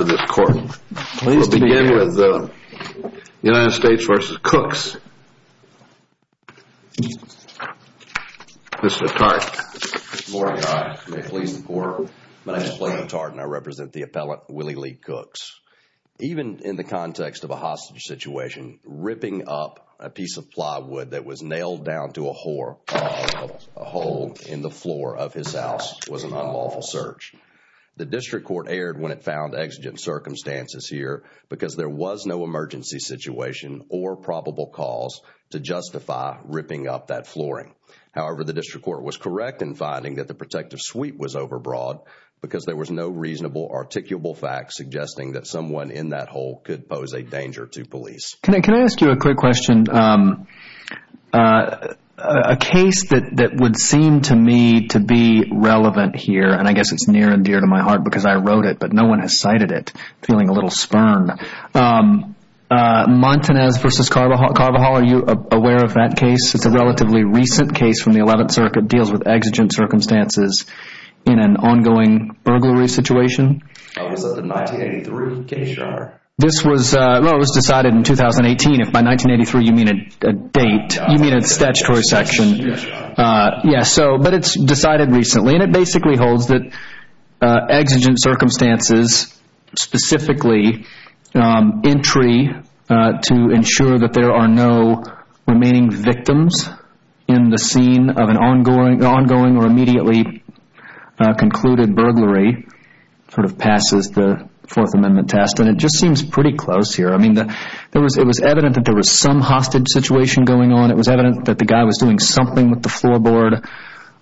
Even in the context of a hostage situation, ripping up a piece of plywood that was nailed down to a hole in the floor of his house was an unlawful search. The district court erred when it found exigent circumstances here because there was no emergency situation or probable cause to justify ripping up that flooring. However, the district court was correct in finding that the protective suite was overbroad because there was no reasonable articulable fact suggesting that someone in that hole could pose a danger to police. Can I ask you a quick question? A case that would seem to me to be relevant here, and I guess it's near and dear to my heart because I wrote it, but no one has cited it, I'm feeling a little spurned, Montanez v. Carvajal. Are you aware of that case? It's a relatively recent case from the 11th Circuit. It deals with exigent circumstances in an ongoing burglary situation. Was that the 1983 case, or? This was decided in 2018. If by 1983 you mean a date, you mean a statutory section. But it's decided recently, and it basically holds that exigent circumstances, specifically entry to ensure that there are no remaining victims in the scene of an ongoing or immediately concluded burglary, sort of passes the Fourth Amendment test, and it just seems pretty close here. I mean, it was evident that there was some hostage situation going on. It was evident that the guy was doing something with the floorboard,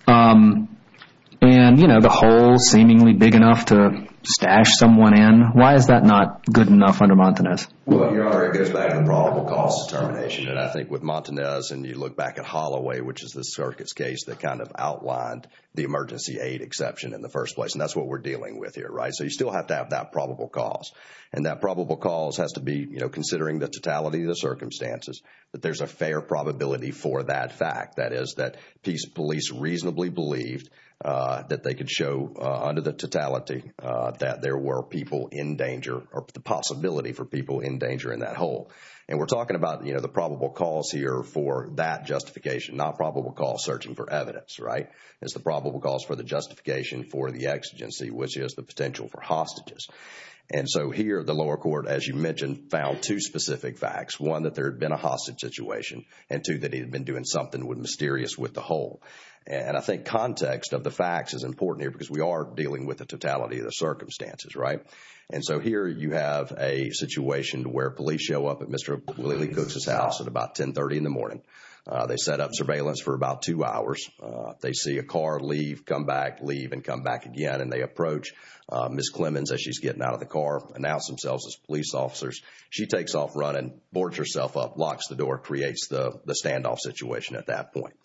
and the hole seemingly big enough to stash someone in. Why is that not good enough under Montanez? Well, it goes back to probable cause determination, and I think with Montanez, and you look back at Holloway, which is the circuit's case that kind of outlined the emergency aid exception in the first place, and that's what we're dealing with here, right? So you still have to have that probable cause, and that probable cause has to be, you know, considering the totality of the circumstances, that there's a fair probability for that fact. That is, that police reasonably believed that they could show under the totality that there were people in danger, or the possibility for people in danger in that hole. And we're talking about, you know, the probable cause here for that justification, not probable cause searching for evidence, right? It's the probable cause for the justification for the exigency, which is the potential for hostages. And so here, the lower court, as you mentioned, found two specific facts. One, that there had been a hostage situation, and two, that he had been doing something mysterious with the hole. And I think context of the facts is important here because we are dealing with the totality of the circumstances, right? And so here, you have a situation where police show up at Mr. Willie Cook's house at about 10.30 in the morning. They set up surveillance for about two hours. They see a car leave, come back, leave, and come back again, and they approach Ms. Clemons as she's getting out of the car, announce themselves as police officers. She takes off running, boards herself up, locks the door, creates the standoff situation at that point.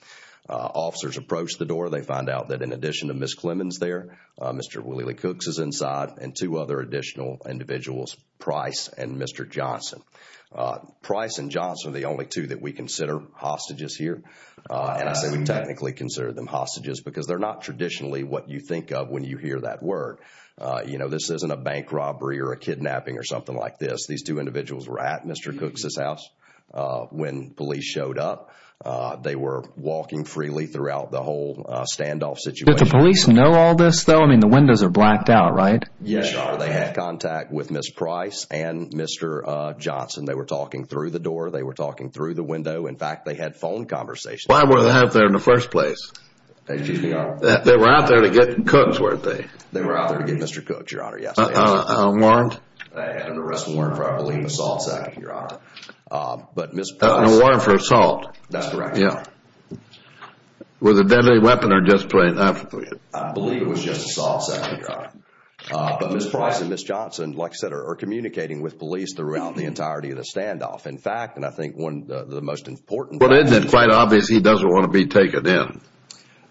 Officers approach the door. They find out that in addition to Ms. Clemons there, Mr. Willie Cooks is inside, and two other additional individuals, Price and Mr. Johnson. Price and Johnson are the only two that we consider hostages here, and I say we technically consider them hostages because they're not traditionally what you think of when you hear that word. You know, this isn't a bank robbery or a kidnapping or something like this. These two individuals were at Mr. Cook's house when police showed up. They were walking freely throughout the whole standoff situation. Did the police know all this, though? I mean, the windows are blacked out, right? Yes, Your Honor. They had contact with Ms. Price and Mr. Johnson. They were talking through the door. They were talking through the window. In fact, they had phone conversations. Why were they out there in the first place? They were out there to get Cooks, weren't they? They were out there to get Mr. Cooks, Your Honor, yes, they were. Warned? They had an arrest warrant for, I believe, assault, Your Honor. But Ms. Price... A warrant for assault. That's correct. Yeah. Was it a deadly weapon or just plain application? I believe it was just assault, second Your Honor. But Ms. Price and Ms. Johnson, like I said, are communicating with police throughout the entirety of the standoff. In fact, and I think one of the most important... Well, isn't it quite obvious he doesn't want to be taken in?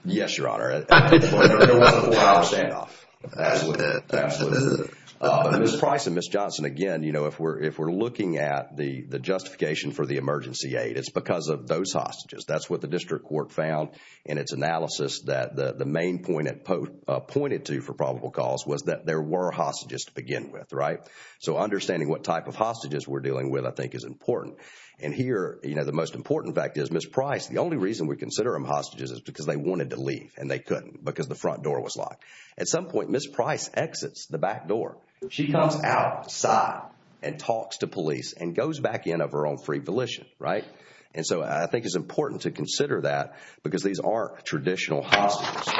Yes, Your Honor. It was a four-hour standoff. Absolutely. Absolutely. But Ms. Price and Ms. Johnson, again, you know, if we're looking at the justification for the emergency aid, it's because of those hostages. That's what the district court found in its analysis that the main point it pointed to for probable cause was that there were hostages to begin with, right? So understanding what type of hostages we're dealing with, I think, is important. And here, you know, the most important fact is Ms. Price, the only reason we consider them hostages is because they wanted to leave and they couldn't because the front door was locked. At some point, Ms. Price exits the back door. She comes outside and talks to police and goes back in of her own free volition, right? And so I think it's important to consider that because these are traditional hostages.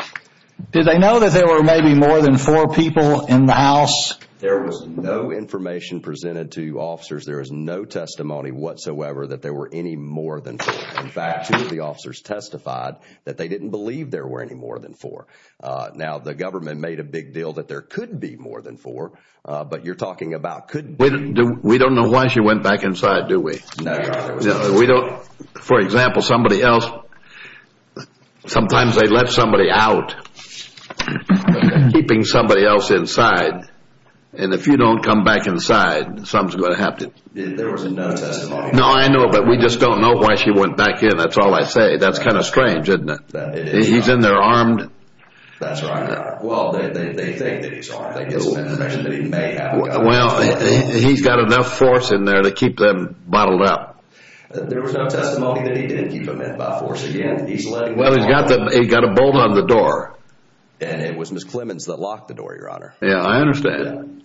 Did they know that there were maybe more than four people in the house? There was no information presented to officers. There is no testimony whatsoever that there were any more than four. In fact, two of the officers testified that they didn't believe there were any more than four. Now, the government made a big deal that there could be more than four, but you're talking about could... We don't know why she went back inside, do we? We don't. For example, somebody else, sometimes they let somebody out, keeping somebody else inside. And if you don't come back inside, something's going to happen. There was no testimony. No, I know. But we just don't know why she went back in. That's all I say. That's kind of strange, isn't it? He's in there armed. That's right. Well, they think that he's armed. They get some information that he may have. Well, he's got enough force in there to keep them bottled up. There was no testimony that he didn't keep them in by force. Again, he's letting... Well, he's got a bolt on the door. And it was Ms. Clemons that locked the door, Your Honor. Yeah, I understand.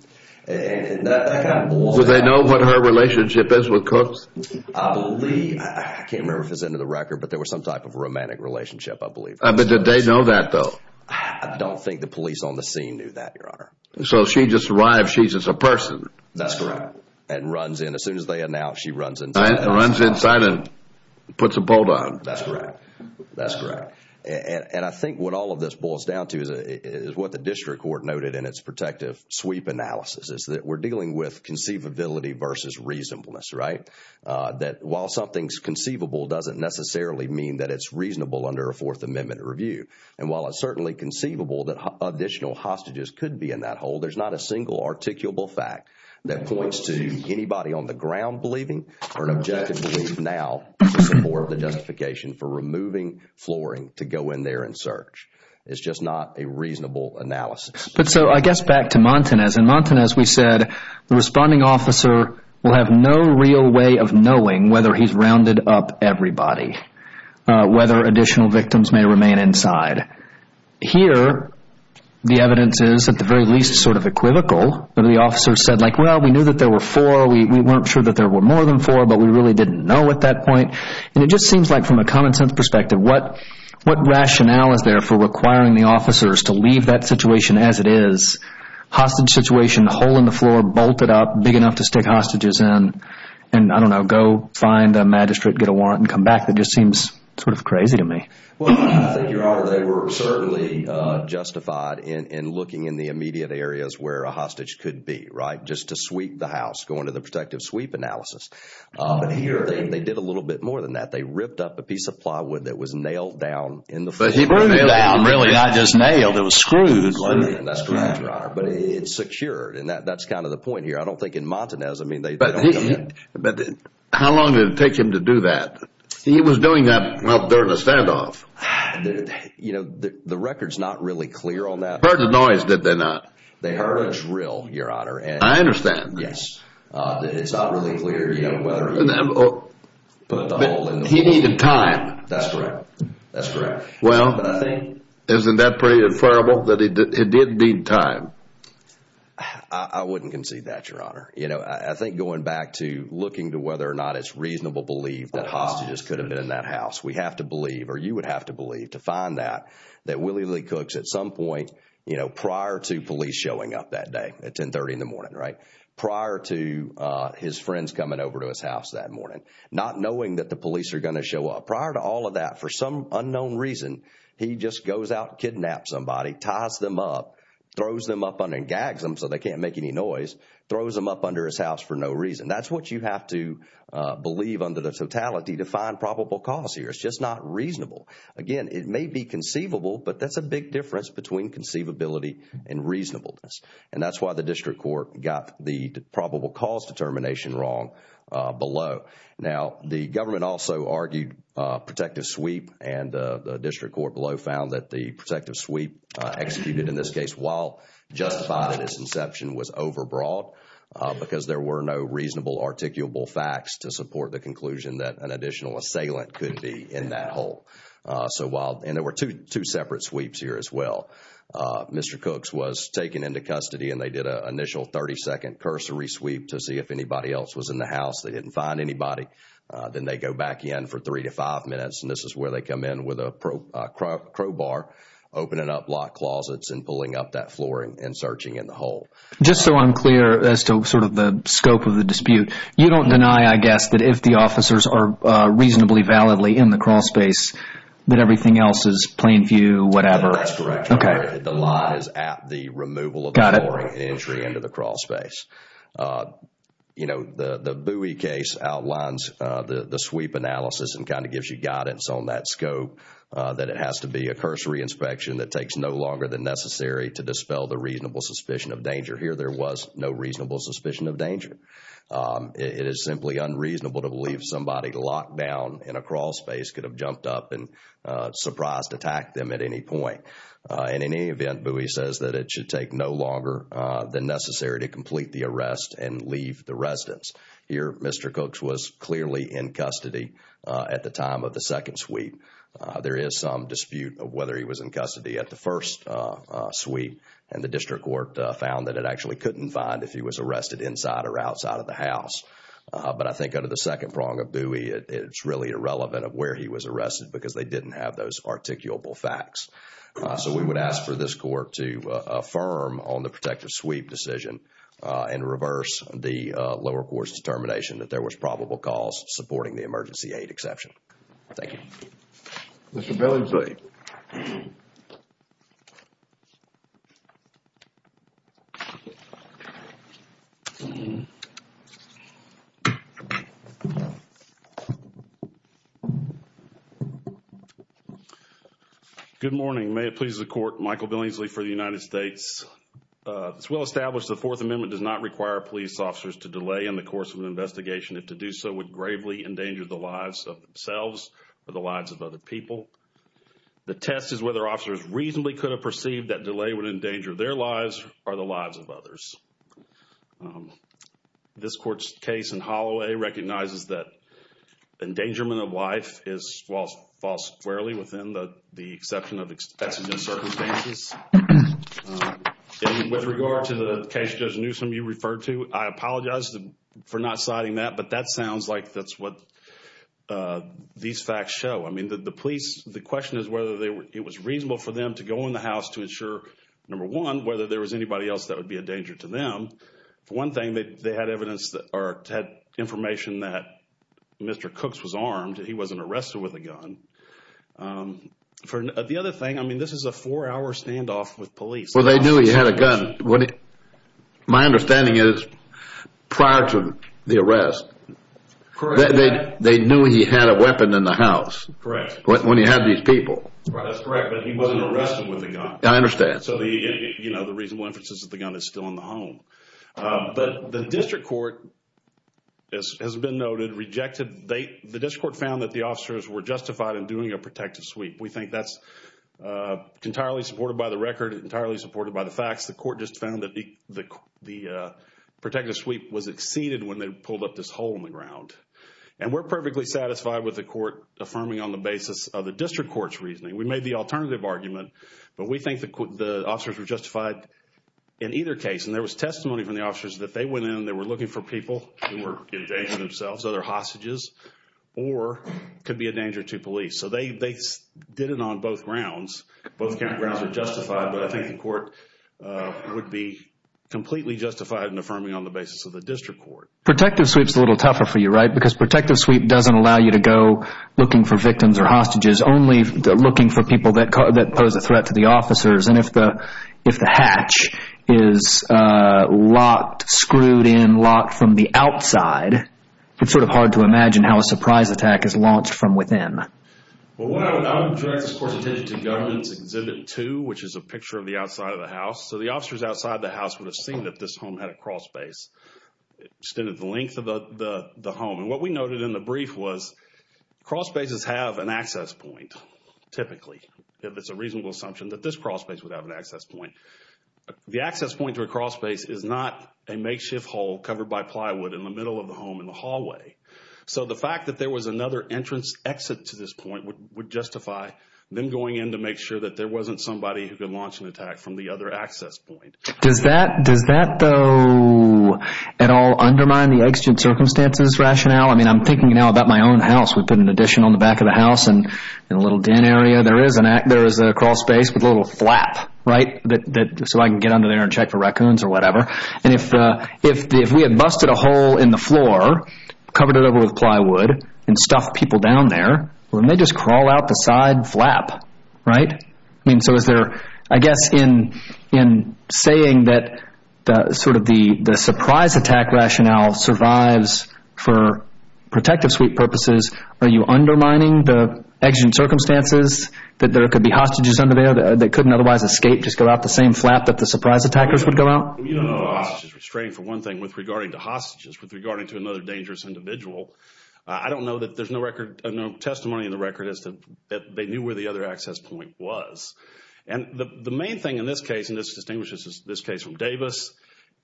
And that kind of blows... Do they know what her relationship is with Cooks? I believe... I can't remember if it's in the record, but there was some type of romantic relationship, I believe. But did they know that, though? I don't think the police on the scene knew that, Your Honor. So she just arrived. She's just a person. That's correct. And runs in. As soon as they announce, she runs inside. Runs inside and puts a bolt on. That's correct. That's correct. And I think what all of this boils down to is what the district court noted in its protective sweep analysis. It's that we're dealing with conceivability versus reasonableness, right? That while something's conceivable doesn't necessarily mean that it's reasonable under a Fourth Amendment review. And while it's certainly conceivable that additional hostages could be in that hole, there's not a single articulable fact that points to anybody on the ground believing or an objective belief now in support of the justification for removing flooring to go in there and search. It's just not a reasonable analysis. So I guess back to Montanez. In Montanez, we said the responding officer will have no real way of knowing whether he's Here, the evidence is at the very least sort of equivocal. The officer said, like, well, we knew that there were four. We weren't sure that there were more than four, but we really didn't know at that point. And it just seems like from a common sense perspective, what rationale is there for requiring the officers to leave that situation as it is? Hostage situation, hole in the floor, bolted up, big enough to stick hostages in, and I don't know, go find a magistrate, get a warrant, and come back. That just seems sort of crazy to me. Well, I think, Your Honor, they were certainly justified in looking in the immediate areas where a hostage could be, right? Just to sweep the house, going to the protective sweep analysis. But here, they did a little bit more than that. They ripped up a piece of plywood that was nailed down in the floor. Nailed down? Really? Not just nailed. It was screwed. That's correct, Your Honor. But it's secured. And that's kind of the point here. I don't think in Montanez, I mean, they don't do that. But how long did it take him to do that? He was doing that, well, during a standoff. You know, the record's not really clear on that. Heard the noise, did they not? They heard a drill, Your Honor. I understand. Yes. It's not really clear, you know, whether he put the hole in the wall. He needed time. That's correct. That's correct. Well, isn't that pretty inferable that it did need time? I wouldn't concede that, Your Honor. You know, I think going back to looking to whether or not it's reasonable belief that the hostages could have been in that house, we have to believe or you would have to believe to find that that Willie Lee Cooks at some point, you know, prior to police showing up that day at 1030 in the morning, right? Prior to his friends coming over to his house that morning, not knowing that the police are going to show up. Prior to all of that, for some unknown reason, he just goes out, kidnaps somebody, ties them up, throws them up and gags them so they can't make any noise, throws them up under his house for no reason. And that's what you have to believe under the totality to find probable cause here. It's just not reasonable. Again, it may be conceivable, but that's a big difference between conceivability and reasonableness. And that's why the district court got the probable cause determination wrong below. Now, the government also argued protective sweep and the district court below found that the protective sweep executed in this case while justified at its inception was overbroad because there were no reasonable articulable facts to support the conclusion that an additional assailant could be in that hole. And there were two separate sweeps here as well. Mr. Cooks was taken into custody and they did an initial 30-second cursory sweep to see if anybody else was in the house. They didn't find anybody. Then they go back in for three to five minutes and this is where they come in with a crowbar, opening up locked closets and pulling up that flooring and searching in the hole. Just so I'm clear as to sort of the scope of the dispute. You don't deny, I guess, that if the officers are reasonably validly in the crawl space that everything else is plain view, whatever? That's correct. The line is at the removal of the flooring, the entry into the crawl space. You know, the Bowie case outlines the sweep analysis and kind of gives you guidance on that scope that it has to be a cursory inspection that takes no longer than necessary to dispel the reasonable suspicion of danger. Here, there was no reasonable suspicion of danger. It is simply unreasonable to believe somebody locked down in a crawl space could have jumped up and surprised attacked them at any point. And in any event, Bowie says that it should take no longer than necessary to complete the arrest and leave the residence. Here, Mr. Cooks was clearly in custody at the time of the second sweep. There is some dispute of whether he was in custody at the first sweep and the district court found that it actually couldn't find if he was arrested inside or outside of the house. But I think under the second prong of Bowie, it's really irrelevant of where he was arrested because they didn't have those articulable facts. So we would ask for this court to affirm on the protective sweep decision and reverse the lower court's determination that there was probable cause supporting the emergency aid exception. Thank you. Mr. Billingsley. Good morning. May it please the Court. Michael Billingsley for the United States. It's well established the Fourth Amendment does not require police officers to delay in the course of an investigation. If to do so would gravely endanger the lives of themselves or the lives of other people. The test is whether officers reasonably could have perceived that delay would endanger their lives or the lives of others. This court's case in Holloway recognizes that endangerment of life falls squarely within the exception of expected circumstances. And with regard to the case Judge Newsom, you referred to, I apologize for not citing that, but that sounds like that's what these facts show. I mean, the police, the question is whether it was reasonable for them to go in the house to ensure, number one, whether there was anybody else that would be a danger to them. For one thing, they had evidence or had information that Mr. Cooks was armed and he wasn't arrested with a gun. The other thing, I mean, this is a four-hour standoff with police. Well, they knew he had a gun. My understanding is prior to the arrest, they knew he had a weapon in the house. Correct. When he had these people. That's correct, but he wasn't arrested with a gun. I understand. So, you know, the reasonable inference is that the gun is still in the home. But the district court, as has been noted, rejected, the district court found that the officers were justified in doing a protective sweep. We think that's entirely supported by the record, entirely supported by the facts. The court just found that the protective sweep was exceeded when they pulled up this hole in the ground. And we're perfectly satisfied with the court affirming on the basis of the district court's reasoning. We made the alternative argument, but we think the officers were justified in either case. And there was testimony from the officers that they went in, they were looking for people who were endangering themselves, other hostages, or could be a danger to police. So they did it on both grounds. Both grounds are justified, but I think the court would be completely justified in affirming on the basis of the district court. Protective sweep's a little tougher for you, right? Because protective sweep doesn't allow you to go looking for victims or hostages, only looking for people that pose a threat to the officers. And if the hatch is locked, screwed in, locked from the outside, it's sort of hard to imagine how a surprise attack is launched from within. Well, I would direct this court's attention to Government's Exhibit 2, which is a picture of the outside of the house. So the officers outside the house would have seen that this home had a crawlspace extended the length of the home. And what we noted in the brief was crawlspaces have an access point, typically, if it's a reasonable assumption that this crawlspace would have an access point. The access point to a crawlspace is not a makeshift hole covered by plywood in the middle of the home in the hallway. So the fact that there was another entrance exit to this point would justify them going in to make sure that there wasn't somebody who could launch an attack from the other access point. Does that, though, at all undermine the exigent circumstances rationale? I mean, I'm thinking now about my own house. We put an addition on the back of the house in a little den area. There is a crawlspace with a little flap, right? So I can get under there and check for raccoons or whatever. And if we had busted a hole in the floor, covered it over with plywood and stuffed people down there, wouldn't they just crawl out the side flap, right? I mean, so is there, I guess, in saying that sort of the surprise attack rationale survives for protective suite purposes, are you undermining the exigent circumstances that there could be hostages under there that couldn't otherwise escape, just go out the same flap that the surprise attackers would go out? You don't have hostages restrained, for one thing, with regarding to hostages, with regarding to another dangerous individual. I don't know that there's no record, no testimony in the record as to, that they knew where the other access point was. And the main thing in this case, and this distinguishes this case from Davis,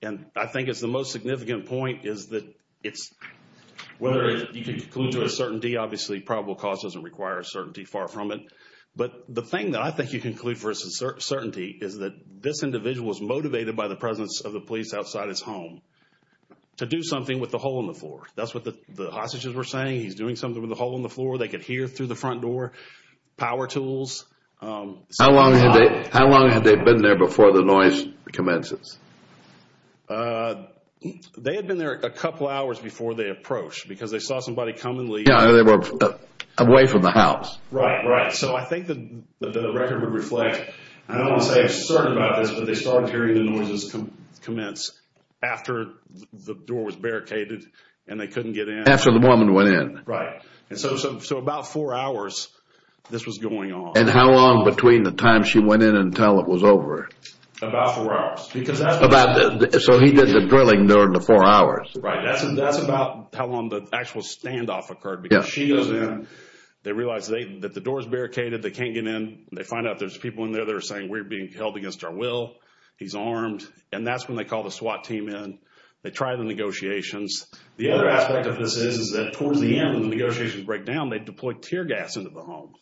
and I think it's the most significant point, is that it's, whether you can conclude to a certainty, obviously probable cause doesn't require a certainty, far from it. But the thing that I think you conclude for a certainty is that this individual was motivated by the presence of the police outside his home to do something with the hole in the floor. That's what the hostages were saying, he's doing something with the hole in the floor. They could hear through the front door, power tools. How long had they been there before the noise commences? They had been there a couple hours before they approached, because they saw somebody come and leave. Yeah, they were away from the house. Right, right. So I think that the record would reflect, I don't want to say I'm certain about this, but they started hearing the noises commence after the door was barricaded and they couldn't get in. After the woman went in. Right. And so about four hours this was going on. And how long between the time she went in until it was over? About four hours. So he did the drilling during the four hours. Right, that's about how long the actual standoff occurred. Because she goes in, they realize that the door's barricaded, they can't get in. They find out there's people in there that are saying, we're being held against our will. He's armed. And that's when they call the SWAT team in. They try the negotiations. The other aspect of this is that towards the end when the negotiations break down, they deploy tear gas into the home.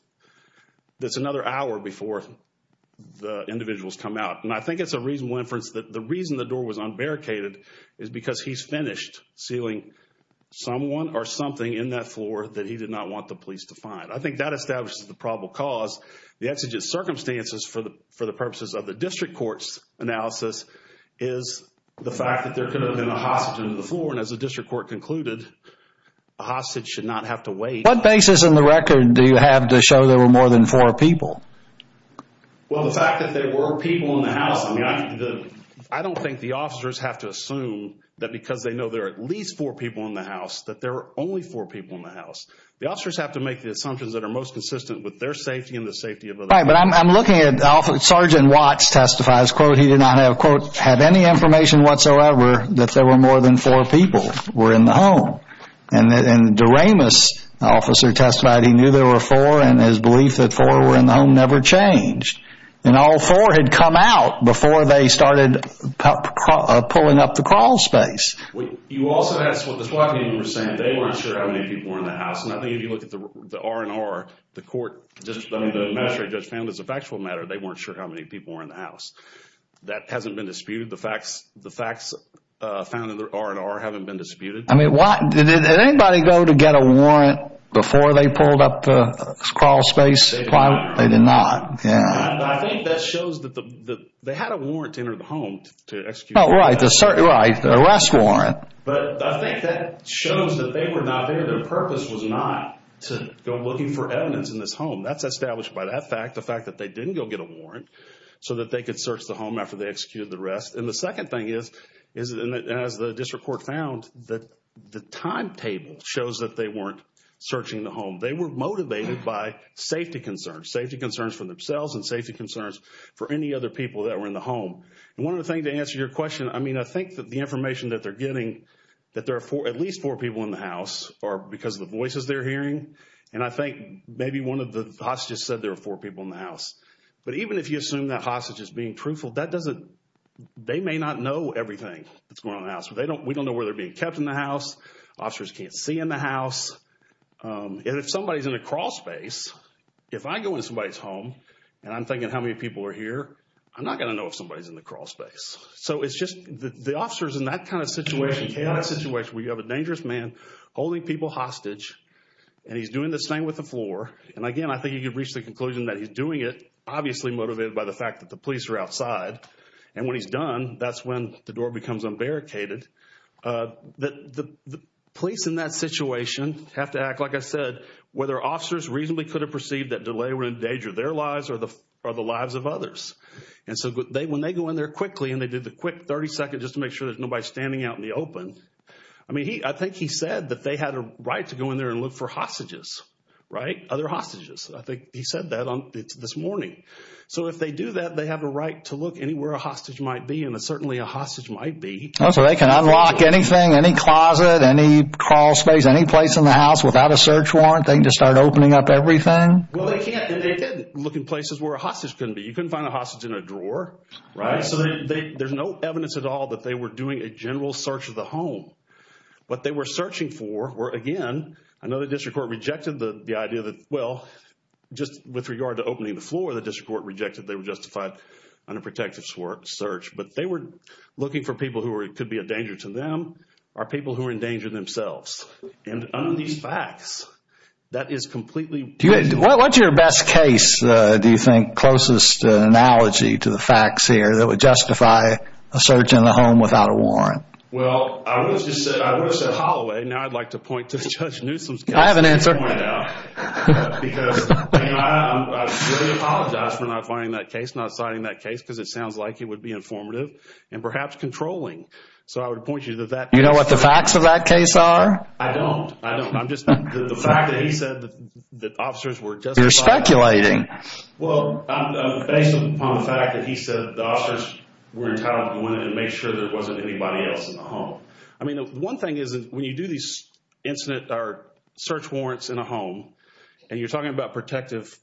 That's another hour before the individuals come out. And I think it's a reasonable inference that the reason the door was unbarricaded is because he's finished sealing someone or something in that floor that he did not want the police to find. I think that establishes the probable cause. The exigent circumstances for the purposes of the district court's analysis is the fact that there could have been a hostage in the floor. And as the district court concluded, a hostage should not have to wait. What basis in the record do you have to show there were more than four people? Well, the fact that there were people in the house. I don't think the officers have to assume that because they know there are at least The officers have to make the assumptions that are most consistent with their safety and the safety of others. Right. But I'm looking at... Sergeant Watts testifies, quote, he did not have, quote, have any information whatsoever that there were more than four people were in the home. And Doremus, the officer testified, he knew there were four. And his belief that four were in the home never changed. And all four had come out before they started pulling up the crawl space. You also asked what the SWAT team were saying. They weren't sure how many people were in the house. And I think if you look at the R&R, the court, the magistrate judge found as a factual matter, they weren't sure how many people were in the house. That hasn't been disputed. The facts found in the R&R haven't been disputed. I mean, why? Did anybody go to get a warrant before they pulled up the crawl space? They did not. They did not. Yeah. I think that shows that they had a warrant to enter the home to execute. Oh, right. Arrest warrant. But I think that shows that they were not there. Their purpose was not to go looking for evidence in this home. That's established by that fact, the fact that they didn't go get a warrant so that they could search the home after they executed the arrest. And the second thing is, as the district court found, the timetable shows that they weren't searching the home. They were motivated by safety concerns, safety concerns for themselves and safety concerns for any other people that were in the home. And one other thing to answer your question, I mean, I think that the information that they're getting, that there are at least four people in the house are because of the voices they're hearing. And I think maybe one of the hostages said there were four people in the house. But even if you assume that hostage is being truthful, that doesn't – they may not know everything that's going on in the house. We don't know where they're being kept in the house. Officers can't see in the house. And if somebody's in a crawl space, if I go into somebody's home and I'm thinking how many people are here, I'm not going to know if somebody's in the crawl space. So it's just the officers in that kind of situation, chaotic situation where you have a dangerous man holding people hostage and he's doing this thing with the floor. And again, I think you could reach the conclusion that he's doing it obviously motivated by the fact that the police are outside. And when he's done, that's when the door becomes unbarricaded. The police in that situation have to act, like I said, whether officers reasonably could have perceived that delay and they were in danger of their lives or the lives of others. And so when they go in there quickly and they did the quick 30 seconds just to make sure there's nobody standing out in the open, I mean, I think he said that they had a right to go in there and look for hostages. Right? Other hostages. I think he said that this morning. So if they do that, they have a right to look anywhere a hostage might be. And certainly a hostage might be. So they can unlock anything, any closet, any crawl space, any place in the house without a search warrant? They can just start opening up everything? Well, they can't. And they did look in places where a hostage couldn't be. You couldn't find a hostage in a drawer. Right? So there's no evidence at all that they were doing a general search of the home. What they were searching for were, again, I know the district court rejected the idea that, well, just with regard to opening the floor, the district court rejected they were justified under protective search. But they were looking for people who could be a danger to them or people who are in danger themselves. And on these facts, that is completely... What's your best case, do you think, closest analogy to the facts here that would justify a search in a home without a warrant? Well, I would have said Holloway. Now I'd like to point to Judge Newsom's case. I have an answer. Because, you know, I really apologize for not finding that case, not citing that case, because it sounds like it would be informative and perhaps controlling. So I would point you to that case. You know what the facts of that case are? I don't. I don't. The fact that he said that officers were justified... You're speculating. Well, based upon the fact that he said the officers were entitled to go in and make sure there wasn't anybody else in the home. I mean, one thing is when you do these search warrants in a home and you're talking about protective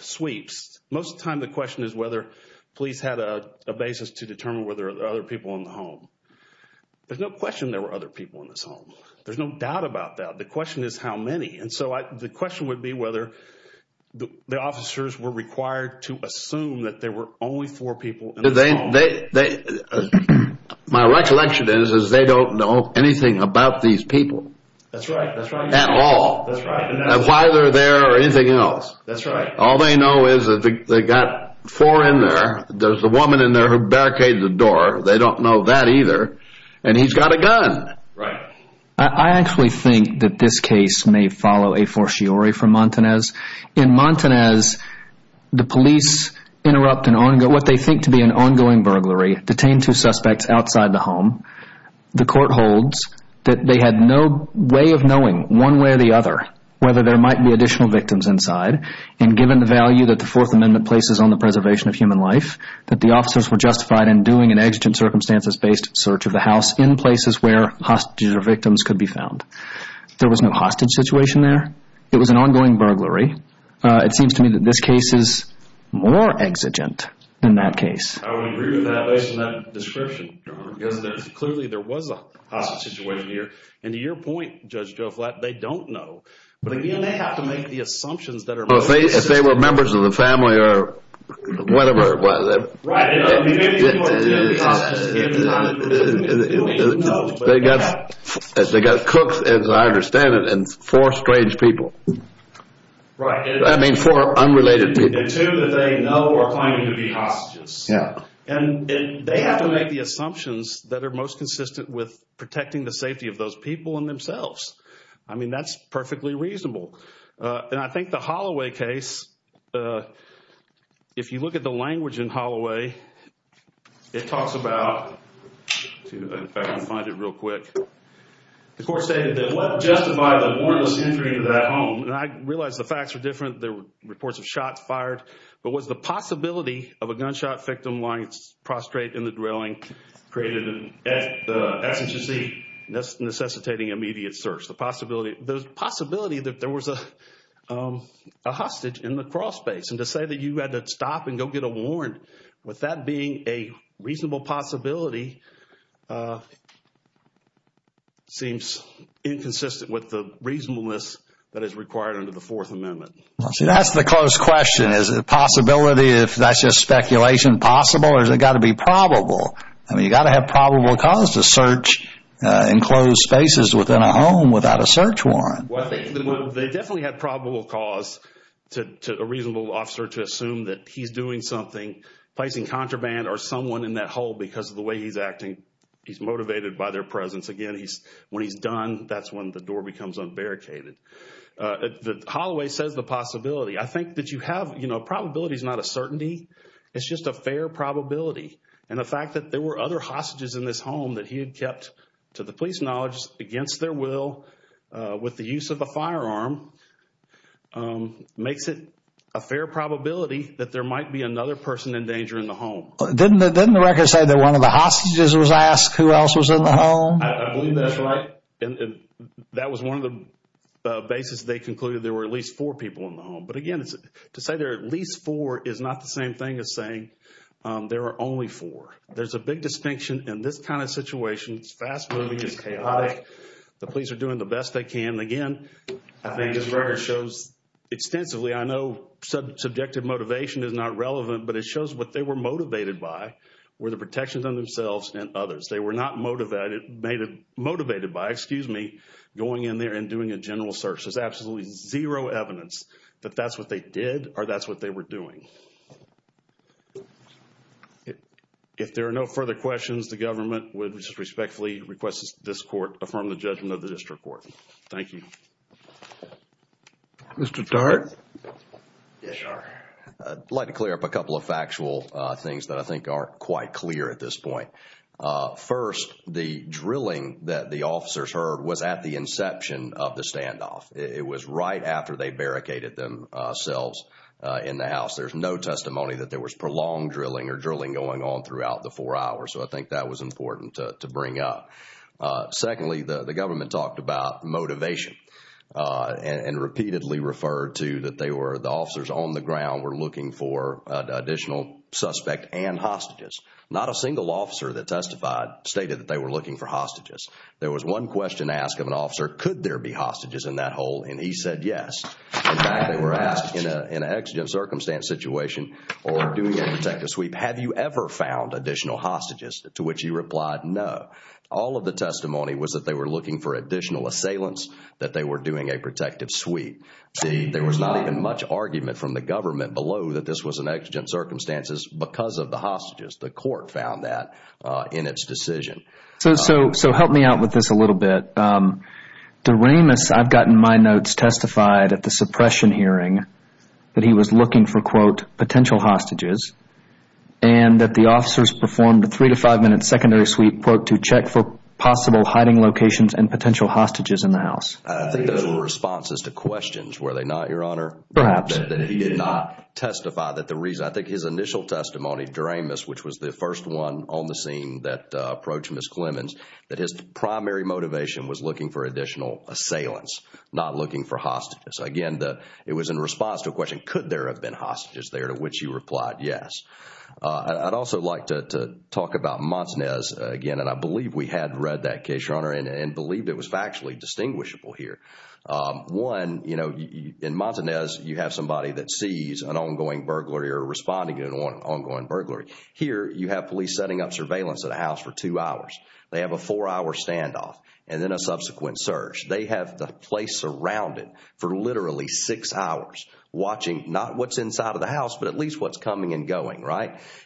sweeps, most of the time the question is whether police had a basis to determine whether there were other people in the home. There's no question there were other people in this home. There's no doubt about that. The question is how many. And so the question would be whether the officers were required to assume that there were only four people in the home. My recollection is they don't know anything about these people. That's right. At all. That's right. Why they're there or anything else. That's right. All they know is that they got four in there. There's a woman in there who barricaded the door. They don't know that either. And he's got a gun. Right. I actually think that this case may follow a fortiori from Montanez. In Montanez, the police interrupt what they think to be an ongoing burglary, detained two suspects outside the home. The court holds that they had no way of knowing, one way or the other, whether there might be additional victims inside. And given the value that the Fourth Amendment places on the preservation of human life, that the officers were justified in doing an exigent circumstances-based search of the house in places where hostages or victims could be found. There was no hostage situation there. It was an ongoing burglary. It seems to me that this case is more exigent than that case. I would agree with that based on that description. Because clearly there was a hostage situation here. And to your point, Judge Joe Flatt, they don't know. But again, they have to make the assumptions that are most basic. If they were members of the family or whatever. Right. They got cooks, as I understand it, and four strange people. Right. I mean, four unrelated people. And two that they know are claiming to be hostages. And they have to make the assumptions that are most consistent with protecting the safety of those people and themselves. I mean, that's perfectly reasonable. And I think the Holloway case, if you look at the language in Holloway, it talks about, let's see if I can find it real quick. The court stated that what justified the warrantless entry into that home? And I realize the facts are different. There were reports of shots fired. But was the possibility of a gunshot victim lying prostrate in the dwelling created at the SHC necessitating immediate search? The possibility that there was a hostage in the crawl space. And to say that you had to stop and go get a warrant with that being a reasonable possibility seems inconsistent with the reasonableness that is required under the Fourth Amendment. See, that's the close question. Is it a possibility if that's just speculation possible? Or has it got to be probable? I mean, you've got to have probable cause to search enclosed spaces within a home without a search warrant. Well, they definitely had probable cause to a reasonable officer to assume that he's doing something, placing contraband or someone in that hole because of the way he's acting. He's motivated by their presence. Again, when he's done, that's when the door becomes unbarricaded. Holloway says the possibility. I think that you have, you know, probability is not a certainty. It's just a fair probability. And the fact that there were other hostages in this home that he had kept, to the police knowledge, against their will with the use of a firearm makes it a fair probability that there might be another person in danger in the home. Didn't the record say that one of the hostages was asked who else was in the home? I believe that's right. That was one of the basis they concluded there were at least four people in the home. But again, to say there are at least four is not the same thing as saying there are only four. There's a big distinction in this kind of situation. It's fast-moving. It's chaotic. The police are doing the best they can. Again, I think this record shows extensively. I know subjective motivation is not relevant, but it shows what they were motivated by were the protections on themselves and others. They were not motivated by, excuse me, going in there and doing a general search. There's absolutely zero evidence that that's what they did or that's what they were doing. If there are no further questions, the government would respectfully request that this court affirm the judgment of the district court. Thank you. Mr. Tartt? I'd like to clear up a couple of factual things that I think are quite clear at this point. First, the drilling that the officers heard was at the inception of the standoff. There's no evidence of that. No testimony that there was prolonged drilling or drilling going on throughout the four hours. I think that was important to bring up. Secondly, the government talked about motivation and repeatedly referred to that the officers on the ground were looking for additional suspect and hostages. Not a single officer that testified stated that they were looking for hostages. There was one question asked of an officer, could there be hostages in that hole? He said yes. In fact, they were asked in an exigent circumstance situation or doing a protective sweep, have you ever found additional hostages? To which he replied no. All of the testimony was that they were looking for additional assailants, that they were doing a protective sweep. There was not even much argument from the government below that this was an exigent circumstances because of the hostages. The court found that in its decision. Help me out with this a little bit. Doremus, I've gotten my notes, testified at the suppression hearing that he was looking for potential hostages and that the officers performed a three to five minute secondary sweep to check for possible hiding locations and potential hostages in the house. I think those were responses to questions, were they not, Your Honor? Perhaps. That he did not testify that the reason. I think his initial testimony, Doremus, which was the first one on the scene that approached Ms. Clemons, that his primary motivation was looking for additional assailants, not looking for hostages. Again, it was in response to a question, could there have been hostages there? To which he replied yes. I'd also like to talk about Montanez again. I believe we had read that case, Your Honor, and believed it was factually distinguishable here. One, in Montanez, you have somebody that sees an ongoing burglary or responding to an ongoing burglary. Here, you have police setting up surveillance at a house for two hours. They have a four hour standoff and then a subsequent search. They have the place surrounded for literally six hours watching not what's inside of the house, but at least what's coming and going.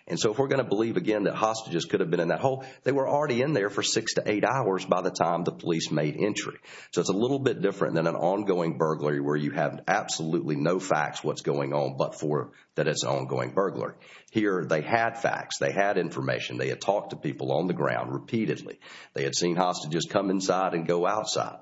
If we're going to believe again that hostages could have been in that hole, they were already in there for six to eight hours by the time the police made entry. It's a little bit different than an ongoing burglary where you have absolutely no facts what's going on but for that it's an ongoing burglar. Here, they had facts. They had information. They had talked to people on the ground repeatedly. They had seen hostages come inside and go outside.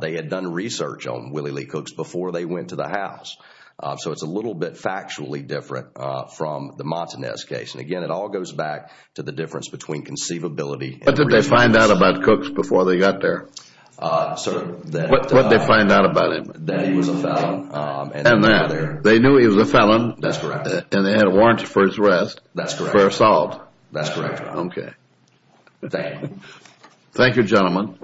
They had done research on Willie Lee Cooks before they went to the house. It's a little bit factually different from the Montanez case. Again, it all goes back to the difference between conceivability and research. What did they find out about Cooks before they got there? What did they find out about him? That he was a felon. They knew he was a felon. That's correct. They had a warrant for his arrest for assault. That's correct. Okay. Thank you, gentlemen.